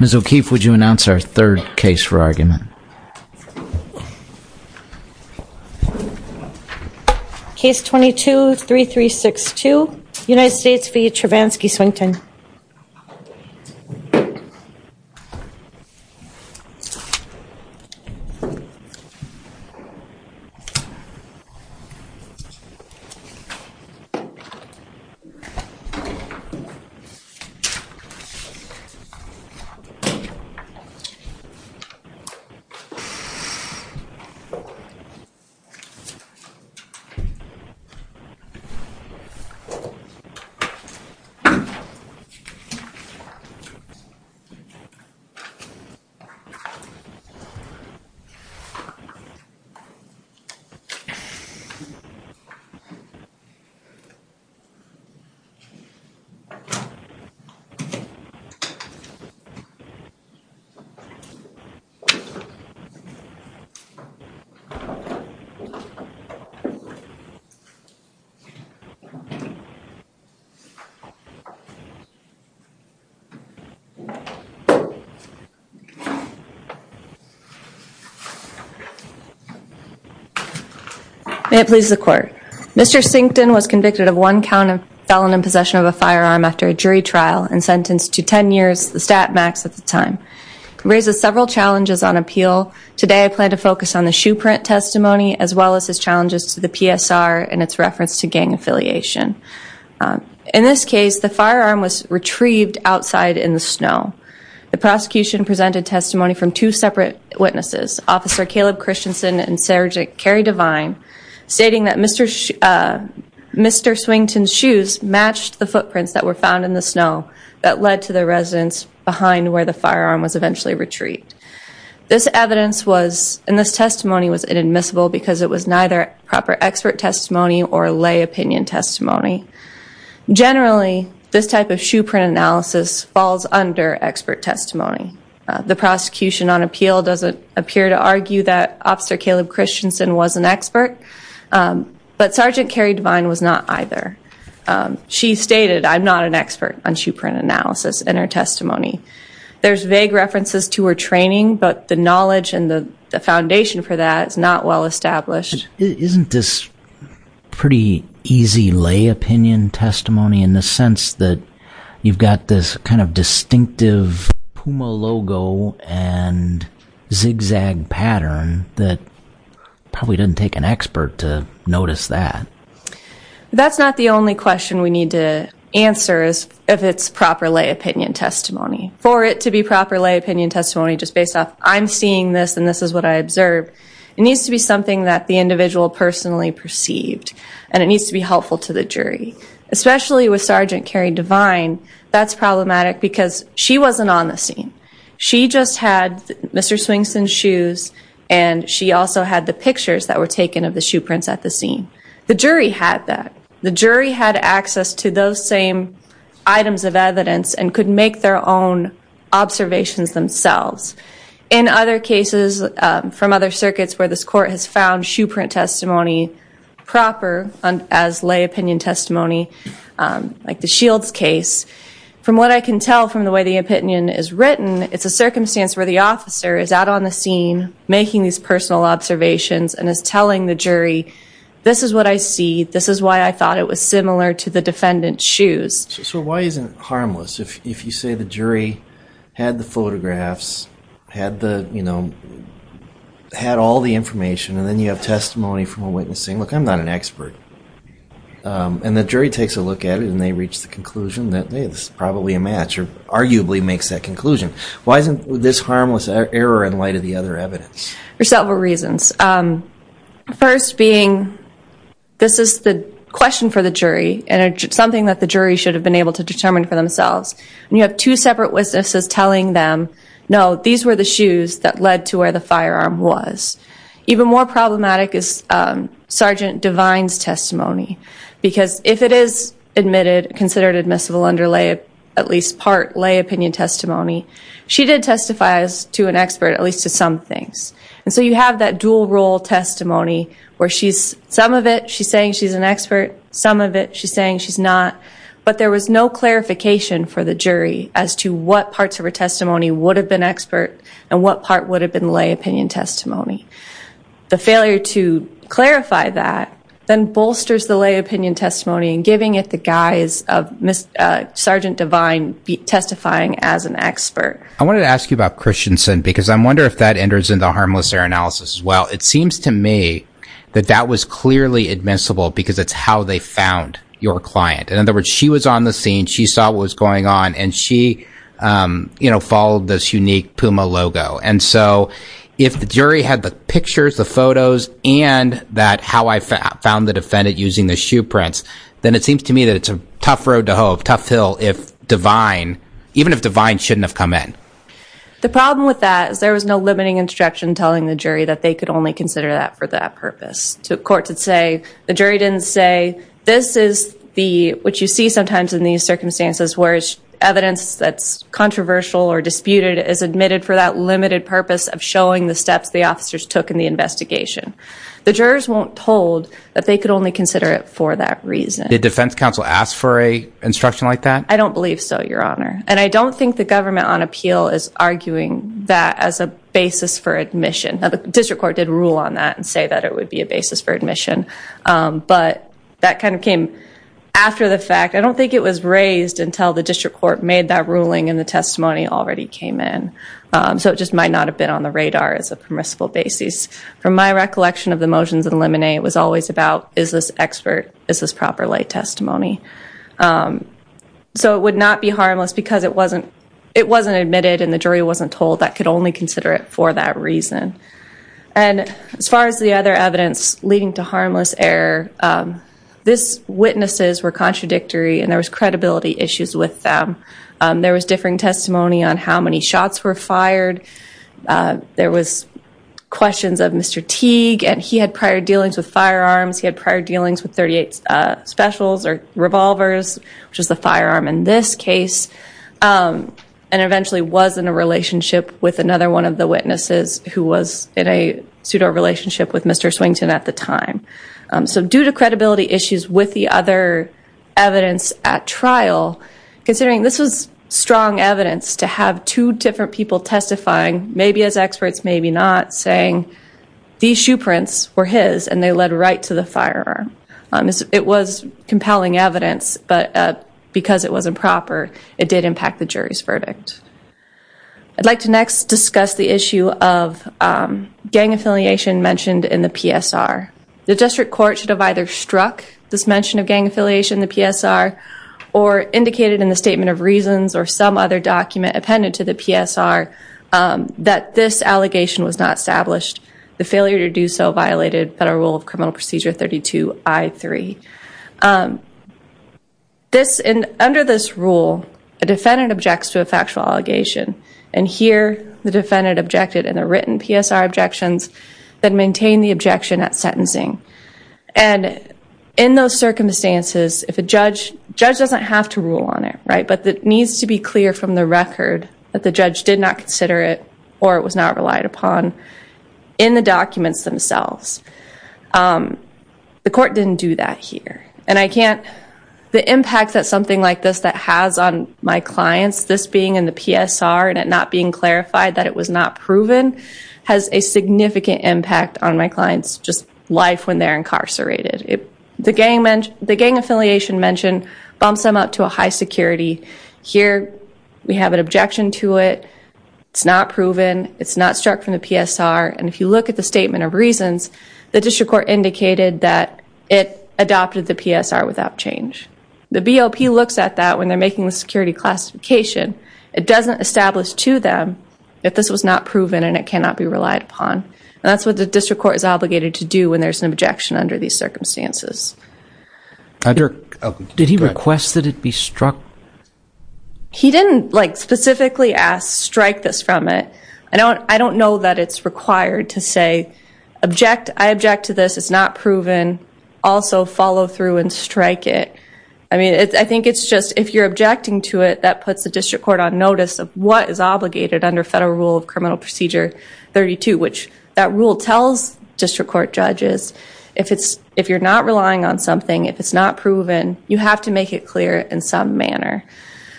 Ms. O'Keefe, would you announce our third case for argument? Case 22-3362, United States v. Travansky-Swington. Case 22-3362, United States v. Travansky-Swington. May it please the Court. Mr. Sington was convicted of one count of felon in possession of a firearm after a jury trial and sentenced to 10 years, the stat max at the time. It raises several challenges on appeal. Today I plan to focus on the shoe print testimony as well as its challenges to the PSR and its reference to gang affiliation. In this case, the firearm was retrieved outside in the snow. The prosecution presented testimony from two separate witnesses, Officer Caleb Christensen and Sergeant Kerry Devine, stating that Mr. Swington's shoes matched the footprints that were found in the snow that led to the residence behind where the firearm was eventually retrieved. This testimony was inadmissible because it was neither proper expert testimony or lay opinion testimony. Generally, this type of shoe print analysis falls under expert testimony. The prosecution on appeal doesn't appear to argue that Officer Caleb Christensen was an expert, but Sergeant Kerry Devine was not either. She stated, I'm not an expert on shoe print analysis in her testimony. There's vague references to her training, but the knowledge and the foundation for that is not well established. Isn't this pretty easy lay opinion testimony in the sense that you've got this kind of distinctive Puma logo and zigzag pattern that probably didn't take an expert to notice that? That's not the only question we need to answer is if it's proper lay opinion testimony. For it to be proper lay opinion testimony just based off I'm seeing this and this is what I observed, it needs to be something that the individual personally perceived and it needs to be helpful to the jury. Especially with Sergeant Kerry Devine, that's problematic because she wasn't on the scene. She just had Mr. Swington's shoes and she also had the pictures that were taken of the shoe prints at the scene. The jury had that. Observations themselves. In other cases from other circuits where this court has found shoe print testimony proper as lay opinion testimony, like the Shields case, from what I can tell from the way the opinion is written, it's a circumstance where the officer is out on the scene making these personal observations and is telling the jury, this is what I see. This is why I thought it was similar to the defendant's shoes. So why isn't it harmless? If you say the jury had the photographs, had all the information, and then you have testimony from a witness saying, look, I'm not an expert. And the jury takes a look at it and they reach the conclusion that, hey, this is probably a match or arguably makes that conclusion. Why isn't this harmless error in light of the other evidence? There's several reasons. First being, this is the question for the jury and it's something that the jury should have been able to determine for themselves. And you have two separate witnesses telling them, no, these were the shoes that led to where the firearm was. Even more problematic is Sergeant Devine's testimony. Because if it is admitted, considered admissible under at least part lay opinion testimony, she did testify as to an expert, at least to some things. And so you have that dual role testimony where some of it she's saying she's an expert, some of it she's saying she's not. But there was no clarification for the jury as to what parts of her testimony would have been expert and what part would have been lay opinion testimony. The failure to clarify that then bolsters the lay opinion testimony and giving it the I wanted to ask you about Christiansen because I wonder if that enters into harmless error analysis as well. It seems to me that that was clearly admissible because it's how they found your client. And in other words, she was on the scene, she saw what was going on, and she followed this unique Puma logo. And so if the jury had the pictures, the photos, and how I found the defendant using the shoe prints, then it seems to me that it's a tough road to hoe, tough hill if Devine, even if The problem with that is there was no limiting instruction telling the jury that they could only consider that for that purpose to court to say the jury didn't say this is the what you see sometimes in these circumstances, whereas evidence that's controversial or disputed is admitted for that limited purpose of showing the steps the officers took in the investigation. The jurors won't told that they could only consider it for that reason. The defense counsel asked for a instruction like that. I don't believe so, Your Honor. And I don't think the government on appeal is arguing that as a basis for admission. The district court did rule on that and say that it would be a basis for admission. But that kind of came after the fact. I don't think it was raised until the district court made that ruling and the testimony already came in. So it just might not have been on the radar as a permissible basis. From my recollection of the motions in Lemonade, it was always about is this expert, is this proper lay testimony. So it would not be harmless because it wasn't it wasn't admitted and the jury wasn't told that could only consider it for that reason. And as far as the other evidence leading to harmless error, this witnesses were contradictory and there was credibility issues with them. There was differing testimony on how many shots were fired. There was questions of Mr. Teague and he had prior dealings with firearms. He had prior dealings with 38 specials or revolvers, which is the firearm in this case. And eventually was in a relationship with another one of the witnesses who was in a pseudo relationship with Mr. Swington at the time. So due to credibility issues with the other evidence at trial, considering this was strong evidence to have two different people testifying, maybe as experts, maybe not, saying these two prints were his and they led right to the firearm. It was compelling evidence, but because it wasn't proper, it did impact the jury's verdict. I'd like to next discuss the issue of gang affiliation mentioned in the PSR. The district court should have either struck this mention of gang affiliation in the PSR or indicated in the statement of reasons or some other document appended to the PSR that this allegation was not established. The failure to do so violated Federal Rule of Criminal Procedure 32 I-3. Under this rule, a defendant objects to a factual allegation and here the defendant objected in the written PSR objections that maintain the objection at sentencing. And in those circumstances, if a judge, judge doesn't have to rule on it, right? But it needs to be clear from the record that the judge did not consider it or it was not relied upon in the documents themselves. The court didn't do that here. And I can't, the impact that something like this that has on my clients, this being in the PSR and it not being clarified that it was not proven has a significant impact on my clients just life when they're incarcerated. The gang affiliation mentioned bumps them up to a high security. Here, we have an objection to it. It's not proven. It's not struck from the PSR. And if you look at the statement of reasons, the district court indicated that it adopted the PSR without change. The BOP looks at that when they're making the security classification. It doesn't establish to them if this was not proven and it cannot be relied upon. And that's what the district court is obligated to do when there's an objection under these circumstances. Did he request that it be struck? He didn't like specifically ask strike this from it. I don't know that it's required to say, I object to this. It's not proven. Also follow through and strike it. I mean, I think it's just if you're objecting to it, that puts the district court on notice of what is obligated under federal rule of criminal procedure 32, which that rule tells district court judges if you're not relying on something, if it's not proven, you have to make it clear in some manner.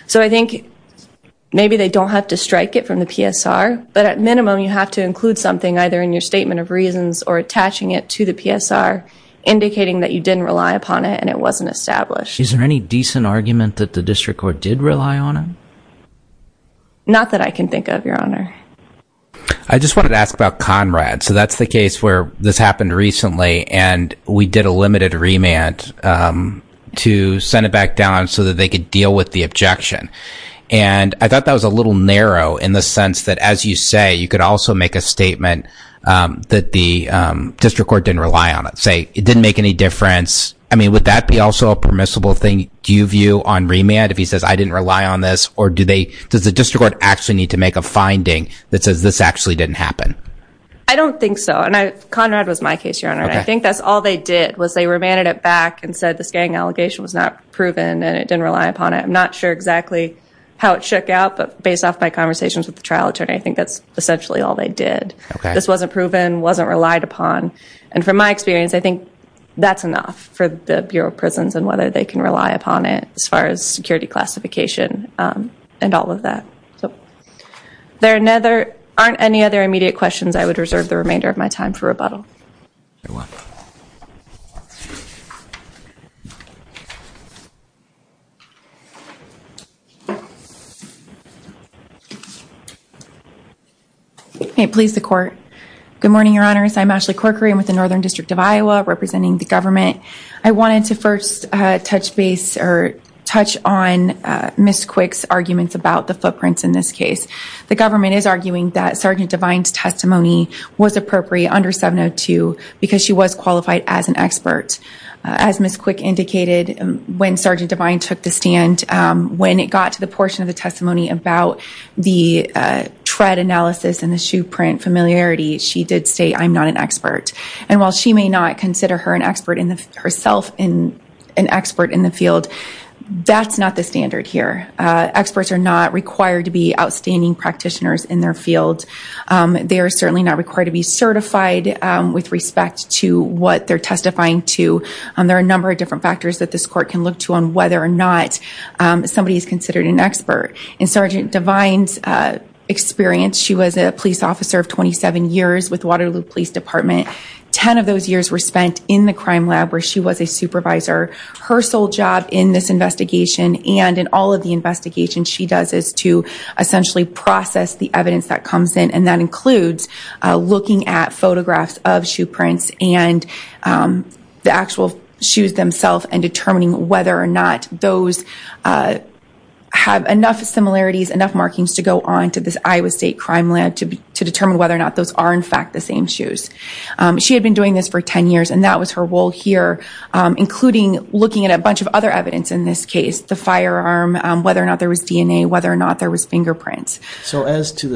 So I think maybe they don't have to strike it from the PSR, but at minimum, you have to include something either in your statement of reasons or attaching it to the PSR, indicating that you didn't rely upon it and it wasn't established. Is there any decent argument that the district court did rely on him? Not that I can think of, your honor. I just wanted to ask about Conrad. So that's the case where this happened recently, and we did a limited remand to send it back down so that they could deal with the objection. And I thought that was a little narrow in the sense that, as you say, you could also make a statement that the district court didn't rely on it. Say it didn't make any difference. I mean, would that be also a permissible thing? Do you view on remand if he says, I didn't rely on this, or do they, does the district court actually need to make a finding that says this actually didn't happen? I don't think so. And Conrad was my case, your honor. I think that's all they did was they remanded it back and said this gang allegation was not proven and it didn't rely upon it. I'm not sure exactly how it shook out, but based off my conversations with the trial attorney, I think that's essentially all they did. This wasn't proven, wasn't relied upon. And from my experience, I think that's enough for the Bureau of Prisons and whether they can rely upon it as far as security classification and all of that. So there aren't any other immediate questions. I would reserve the remainder of my time for rebuttal. May it please the court. Good morning, your honors. I'm Ashley Corcoran with the Northern District of Iowa representing the government. I wanted to first touch base or touch on Ms. Quick's arguments about the footprints in this case. The government is arguing that Sergeant Devine's testimony was appropriate under 702 because she was qualified as an expert. As Ms. Quick indicated, when Sergeant Devine took the stand, when it got to the portion of the testimony about the tread analysis and the shoe print familiarity, she did say I'm not an expert. And while she may not consider herself an expert in the field, that's not the standard here. Experts are not required to be outstanding practitioners in their field. They are certainly not required to be certified with respect to what they're testifying to. There are a number of different factors that this court can look to on whether or not somebody is considered an expert. In Sergeant Devine's experience, she was a police officer of 27 years with Waterloo Police Department. Ten of those years were spent in the crime lab where she was a supervisor. Her sole job in this investigation and in all of the investigations she does is to essentially process the evidence that comes in. And that includes looking at photographs of shoe prints and the actual shoes themselves and determining whether or not those have enough similarities, enough markings to go She had been doing this for 10 years and that was her role here, including looking at a bunch of other evidence in this case, the firearm, whether or not there was DNA, whether or not there was fingerprints. So as to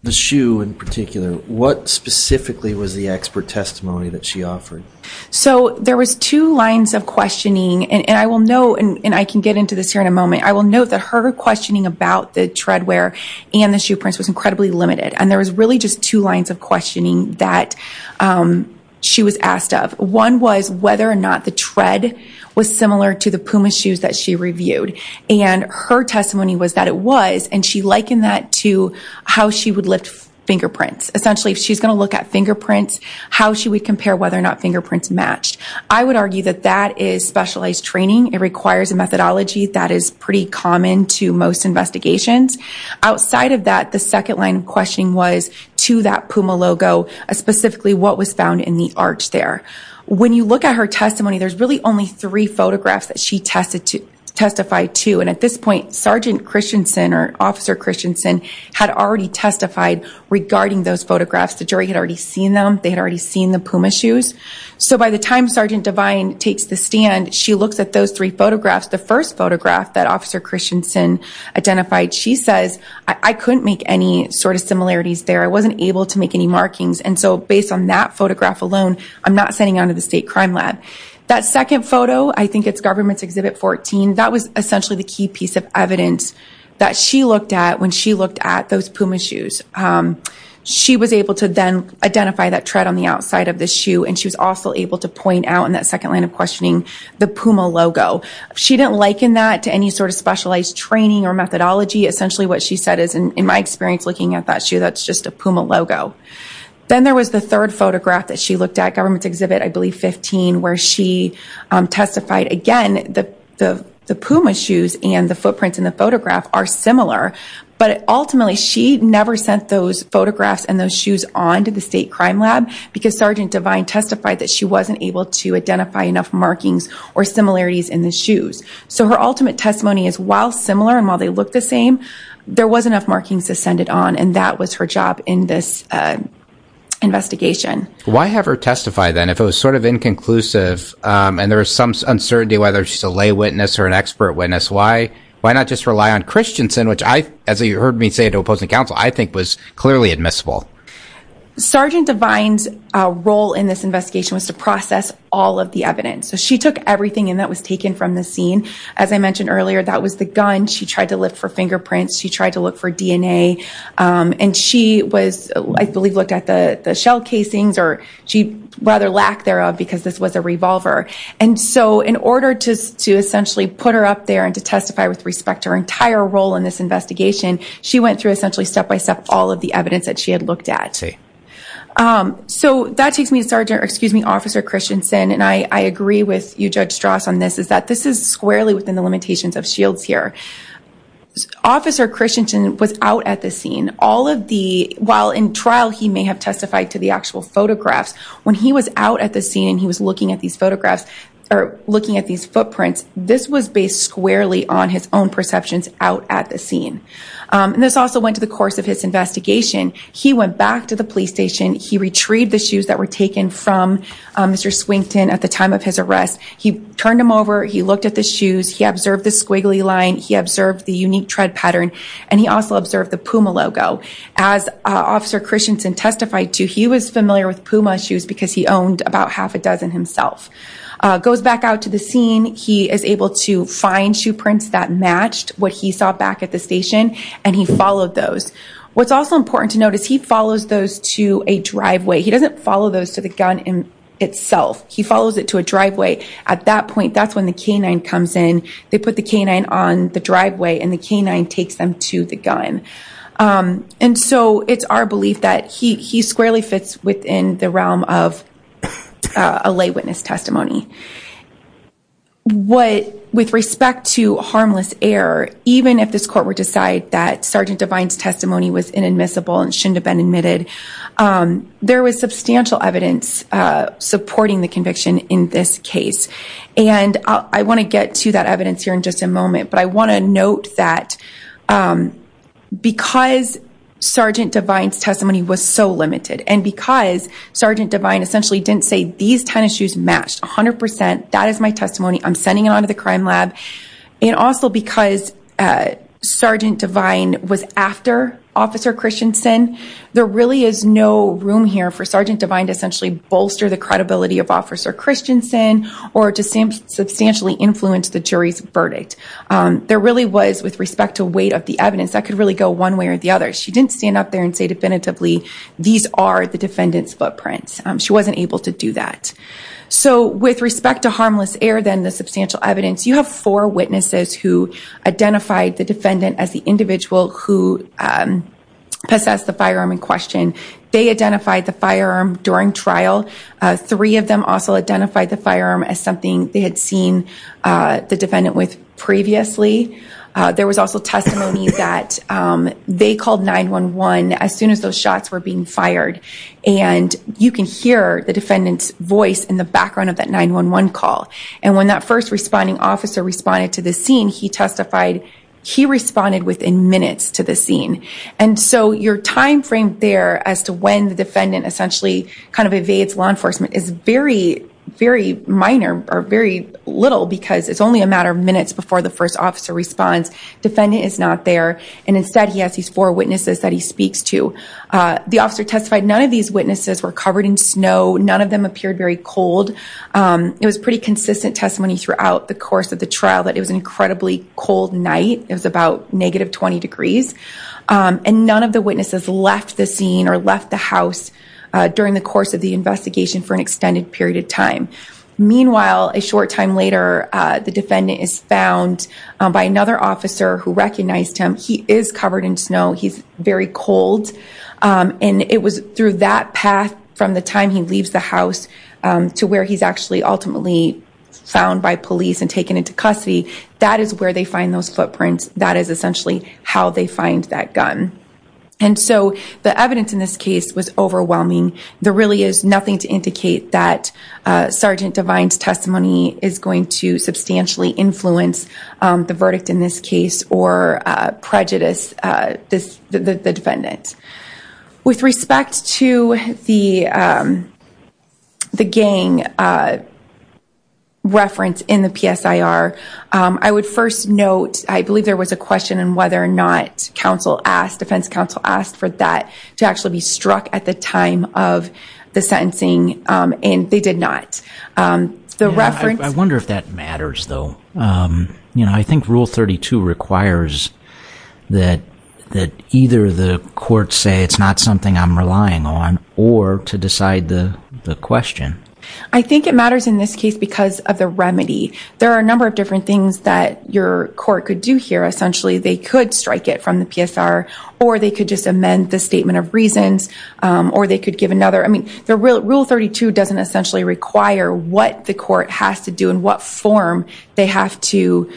the shoe in particular, what specifically was the expert testimony that she offered? So there was two lines of questioning, and I will note, and I can get into this here in a moment, I will note that her questioning about the treadwear and the shoe prints was incredibly limited. And there was really just two lines of questioning that she was asked of. One was whether or not the tread was similar to the Puma shoes that she reviewed. And her testimony was that it was, and she likened that to how she would lift fingerprints. Essentially, if she's going to look at fingerprints, how she would compare whether or not fingerprints matched. I would argue that that is specialized training. It requires a methodology that is pretty common to most investigations. Outside of that, the second line of questioning was to that Puma logo, specifically what was found in the arch there. When you look at her testimony, there's really only three photographs that she testified to. And at this point, Sergeant Christensen or Officer Christensen had already testified regarding those photographs. The jury had already seen them. They had already seen the Puma shoes. So by the time Sergeant Devine takes the stand, she looks at those three photographs. The first photograph that Officer Christensen identified, she says, I couldn't make any sort of similarities there. I wasn't able to make any markings. And so based on that photograph alone, I'm not sending on to the State Crime Lab. That second photo, I think it's Government's Exhibit 14. That was essentially the key piece of evidence that she looked at when she looked at those Puma shoes. She was able to then identify that tread on the outside of the shoe. And she was also able to point out in that second line of questioning, the Puma logo. She didn't liken that to any sort of specialized training or methodology. Essentially what she said is, in my experience looking at that shoe, that's just a Puma logo. Then there was the third photograph that she looked at, Government's Exhibit, I believe, 15, where she testified again that the Puma shoes and the footprints in the photograph are similar. But ultimately, she never sent those photographs and those shoes on to the State Crime Lab because Sergeant Devine testified that she wasn't able to identify enough markings or So her ultimate testimony is while similar and while they look the same, there was enough markings to send it on. And that was her job in this investigation. Why have her testify then? If it was sort of inconclusive and there was some uncertainty whether she's a lay witness or an expert witness, why not just rely on Christensen, which I, as you heard me say to opposing counsel, I think was clearly admissible. Sergeant Devine's role in this investigation was to process all of the evidence. So she took everything and that was taken from the scene. As I mentioned earlier, that was the gun. She tried to look for fingerprints. She tried to look for DNA. And she was, I believe, looked at the shell casings or she rather lack thereof because this was a revolver. And so in order to essentially put her up there and to testify with respect to her entire role in this investigation, she went through essentially step by step all of the evidence that she had looked at. So that takes me to Sergeant, or excuse me, Officer Christensen. And I agree with you, Judge Strauss, on this is that this is squarely within the limitations of shields here. Officer Christensen was out at the scene. All of the, while in trial he may have testified to the actual photographs, when he was out at the scene and he was looking at these photographs or looking at these footprints, this was based squarely on his own perceptions out at the scene. And this also went to the course of his investigation. He went back to the police station. He retrieved the shoes that were taken from Mr. Swington at the time of his arrest. He turned them over. He looked at the shoes. He observed the squiggly line. He observed the unique tread pattern. And he also observed the Puma logo. As Officer Christensen testified to, he was familiar with Puma shoes because he owned about half a dozen himself. Goes back out to the scene. He is able to find shoe prints that matched what he saw back at the station. And he followed those. What's also important to note is he follows those to a driveway. He doesn't follow those to the gun itself. He follows it to a driveway. At that point, that's when the K-9 comes in. They put the K-9 on the driveway and the K-9 takes them to the gun. And so it's our belief that he squarely fits within the realm of a lay witness testimony. With respect to harmless error, even if this court would decide that Sergeant Devine's testimony was inadmissible and shouldn't have been admitted, there was substantial evidence supporting the conviction in this case. And I want to get to that evidence here in just a moment. But I want to note that because Sergeant Devine's testimony was so limited and because Sergeant Devine essentially didn't say these 10 shoes matched 100% of the time, that is my testimony. I'm sending it on to the crime lab. And also because Sergeant Devine was after Officer Christensen, there really is no room here for Sergeant Devine to essentially bolster the credibility of Officer Christensen or to substantially influence the jury's verdict. There really was, with respect to weight of the evidence, that could really go one way or the other. She didn't stand up there and say definitively, these are the defendant's footprints. She wasn't able to do that. So with respect to harmless error, then the substantial evidence, you have four witnesses who identified the defendant as the individual who possessed the firearm in question. They identified the firearm during trial. Three of them also identified the firearm as something they had seen the defendant with previously. There was also testimony that they called 911 as soon as those shots were being fired. And you can hear the defendant's voice in the background of that 911 call. And when that first responding officer responded to the scene, he testified, he responded within minutes to the scene. And so your timeframe there as to when the defendant essentially evades law enforcement is very, very minor or very little because it's only a matter of minutes before the first officer responds. Defendant is not there. And instead, he has these four witnesses that he speaks to. The officer testified, none of these witnesses were covered in snow. None of them appeared very cold. It was pretty consistent testimony throughout the course of the trial that it was an incredibly cold night. It was about negative 20 degrees. And none of the witnesses left the scene or left the house during the course of the investigation for an extended period of time. Meanwhile, a short time later, the defendant is found by another officer who recognized him. He is covered in snow. He's very cold. And it was through that path from the time he leaves the house to where he's actually ultimately found by police and taken into custody. That is where they find those footprints. That is essentially how they find that gun. And so the evidence in this case was overwhelming. There really is nothing to indicate that Sergeant Devine's testimony is going to substantially influence the verdict in this case or prejudice the defendant. With respect to the gang reference in the PSIR, I would first note, I believe there was a question on whether or not counsel asked, defense counsel asked for that to actually be struck at the time of the sentencing. And they did not. I wonder if that matters, though. I think Rule 32 requires that either the court say it's not something I'm relying on or to decide the question. I think it matters in this case because of the remedy. There are a number of different things that your court could do here. Essentially, they could strike it from the PSIR or they could just amend the statement of reasons or they could give another. Rule 32 doesn't essentially require what the court has to do and what form they have to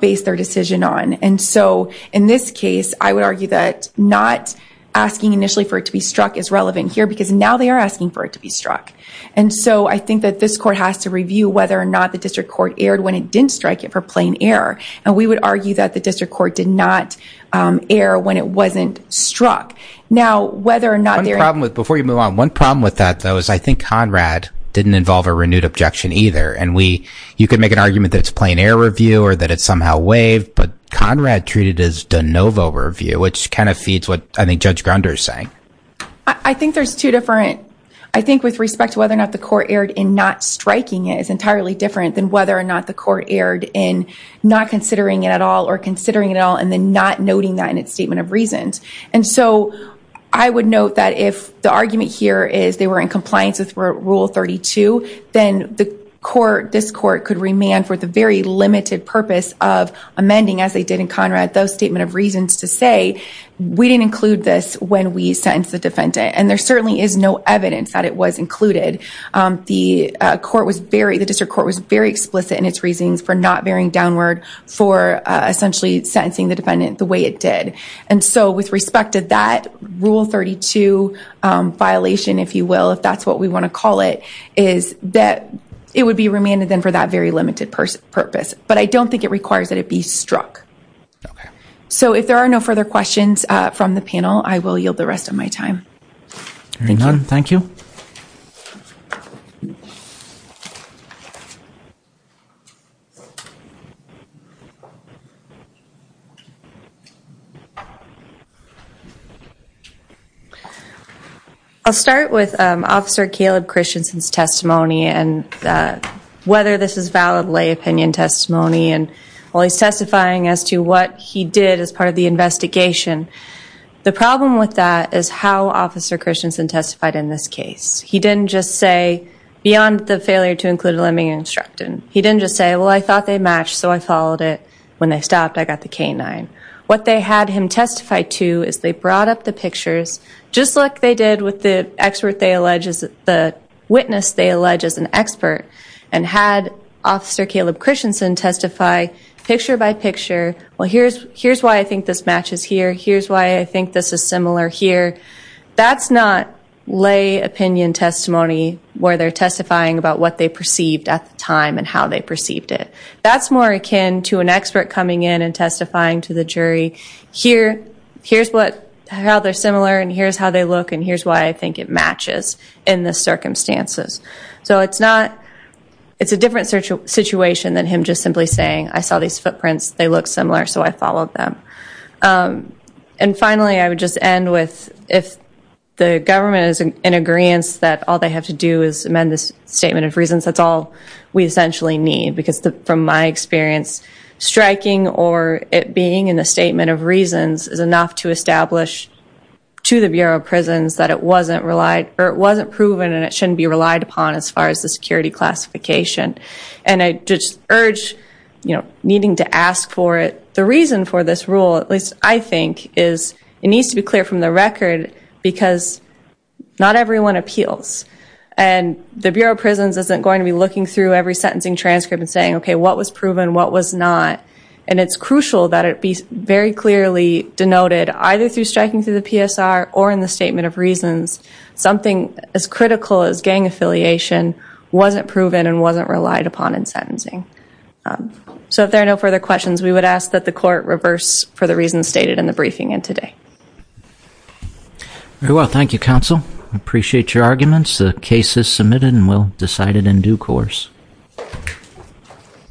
base their decision on. And so in this case, I would argue that not asking initially for it to be struck is relevant here because now they are asking for it to be struck. And so I think that this court has to review whether or not the district court erred when it didn't strike it for plain error. And we would argue that the district court did not err when it wasn't struck. Now, whether or not they're... One problem with... Before you move on, one problem with that, though, is I think Conrad didn't involve a renewed objection either. And you could make an argument that it's plain error review or that it somehow waived, but Conrad treated it as de novo review, which kind of feeds what I think Judge Grunder is saying. I think there's two different... I think with respect to whether or not the court erred in not striking it is entirely different than whether or not the court erred in not considering it at all or considering it at all and then not noting that in its statement of reasons. And so I would note that if the argument here is they were in compliance with Rule 32, then the court... This court could remand for the very limited purpose of amending as they did in Conrad those statement of reasons to say, we didn't include this when we sentenced the defendant. And there certainly is no evidence that it was included. The court was very... The district court was very explicit in its reasons for not bearing downward for essentially sentencing the defendant the way it did. And so with respect to that Rule 32 violation, if you will, if that's what we want to call it, is that it would be remanded then for that very limited purpose. But I don't think it requires that it be struck. So if there are no further questions from the panel, I will yield the rest of my time. Hearing none, thank you. I'll start with Officer Caleb Christensen's testimony and whether this is valid lay opinion testimony and while he's testifying as to what he did as part of the investigation. The problem with that is how Officer Christensen testified in this case. He didn't just say, beyond the failure to include a limiting instruction. He didn't just say, well, I thought they matched, so I followed it. When they stopped, I got the K-9. What they had him testify to is they brought up the pictures, just like they did with the expert they alleged... The witness they alleged as an expert and had Officer Caleb Christensen testify picture by picture. Well, here's why I think this matches here. Here's why I think this is similar here. That's not lay opinion testimony where they're testifying about what they perceived at the time and how they perceived it. That's more akin to an expert coming in and testifying to the jury. Here's how they're similar and here's how they look and here's why I think it matches in the circumstances. So it's a different situation than him just simply saying, I saw these footprints, they look similar, so I followed them. And finally, I would just end with if the government is in agreeance that all they have to do is amend this Statement of Reasons, that's all we essentially need. Because from my experience, striking or it being in the Statement of Reasons is enough to establish to the Bureau of Prisons that it wasn't proven and it shouldn't be relied upon as far as the security classification. And I just urge needing to ask for it. The reason for this rule, at least I think, is it needs to be clear from the record because not everyone appeals. And the Bureau of Prisons isn't going to be looking through every sentencing transcript and saying, OK, what was proven, what was not? And it's crucial that it be very clearly denoted either through striking through the PSR or in the Statement of Reasons, something as critical as gang affiliation wasn't proven and wasn't relied upon in sentencing. So if there are no further questions, we would ask that the Court reverse for the reasons stated in the briefing and today. Very well. Thank you, Counsel. I appreciate your arguments. The case is submitted and we'll decide it in due course.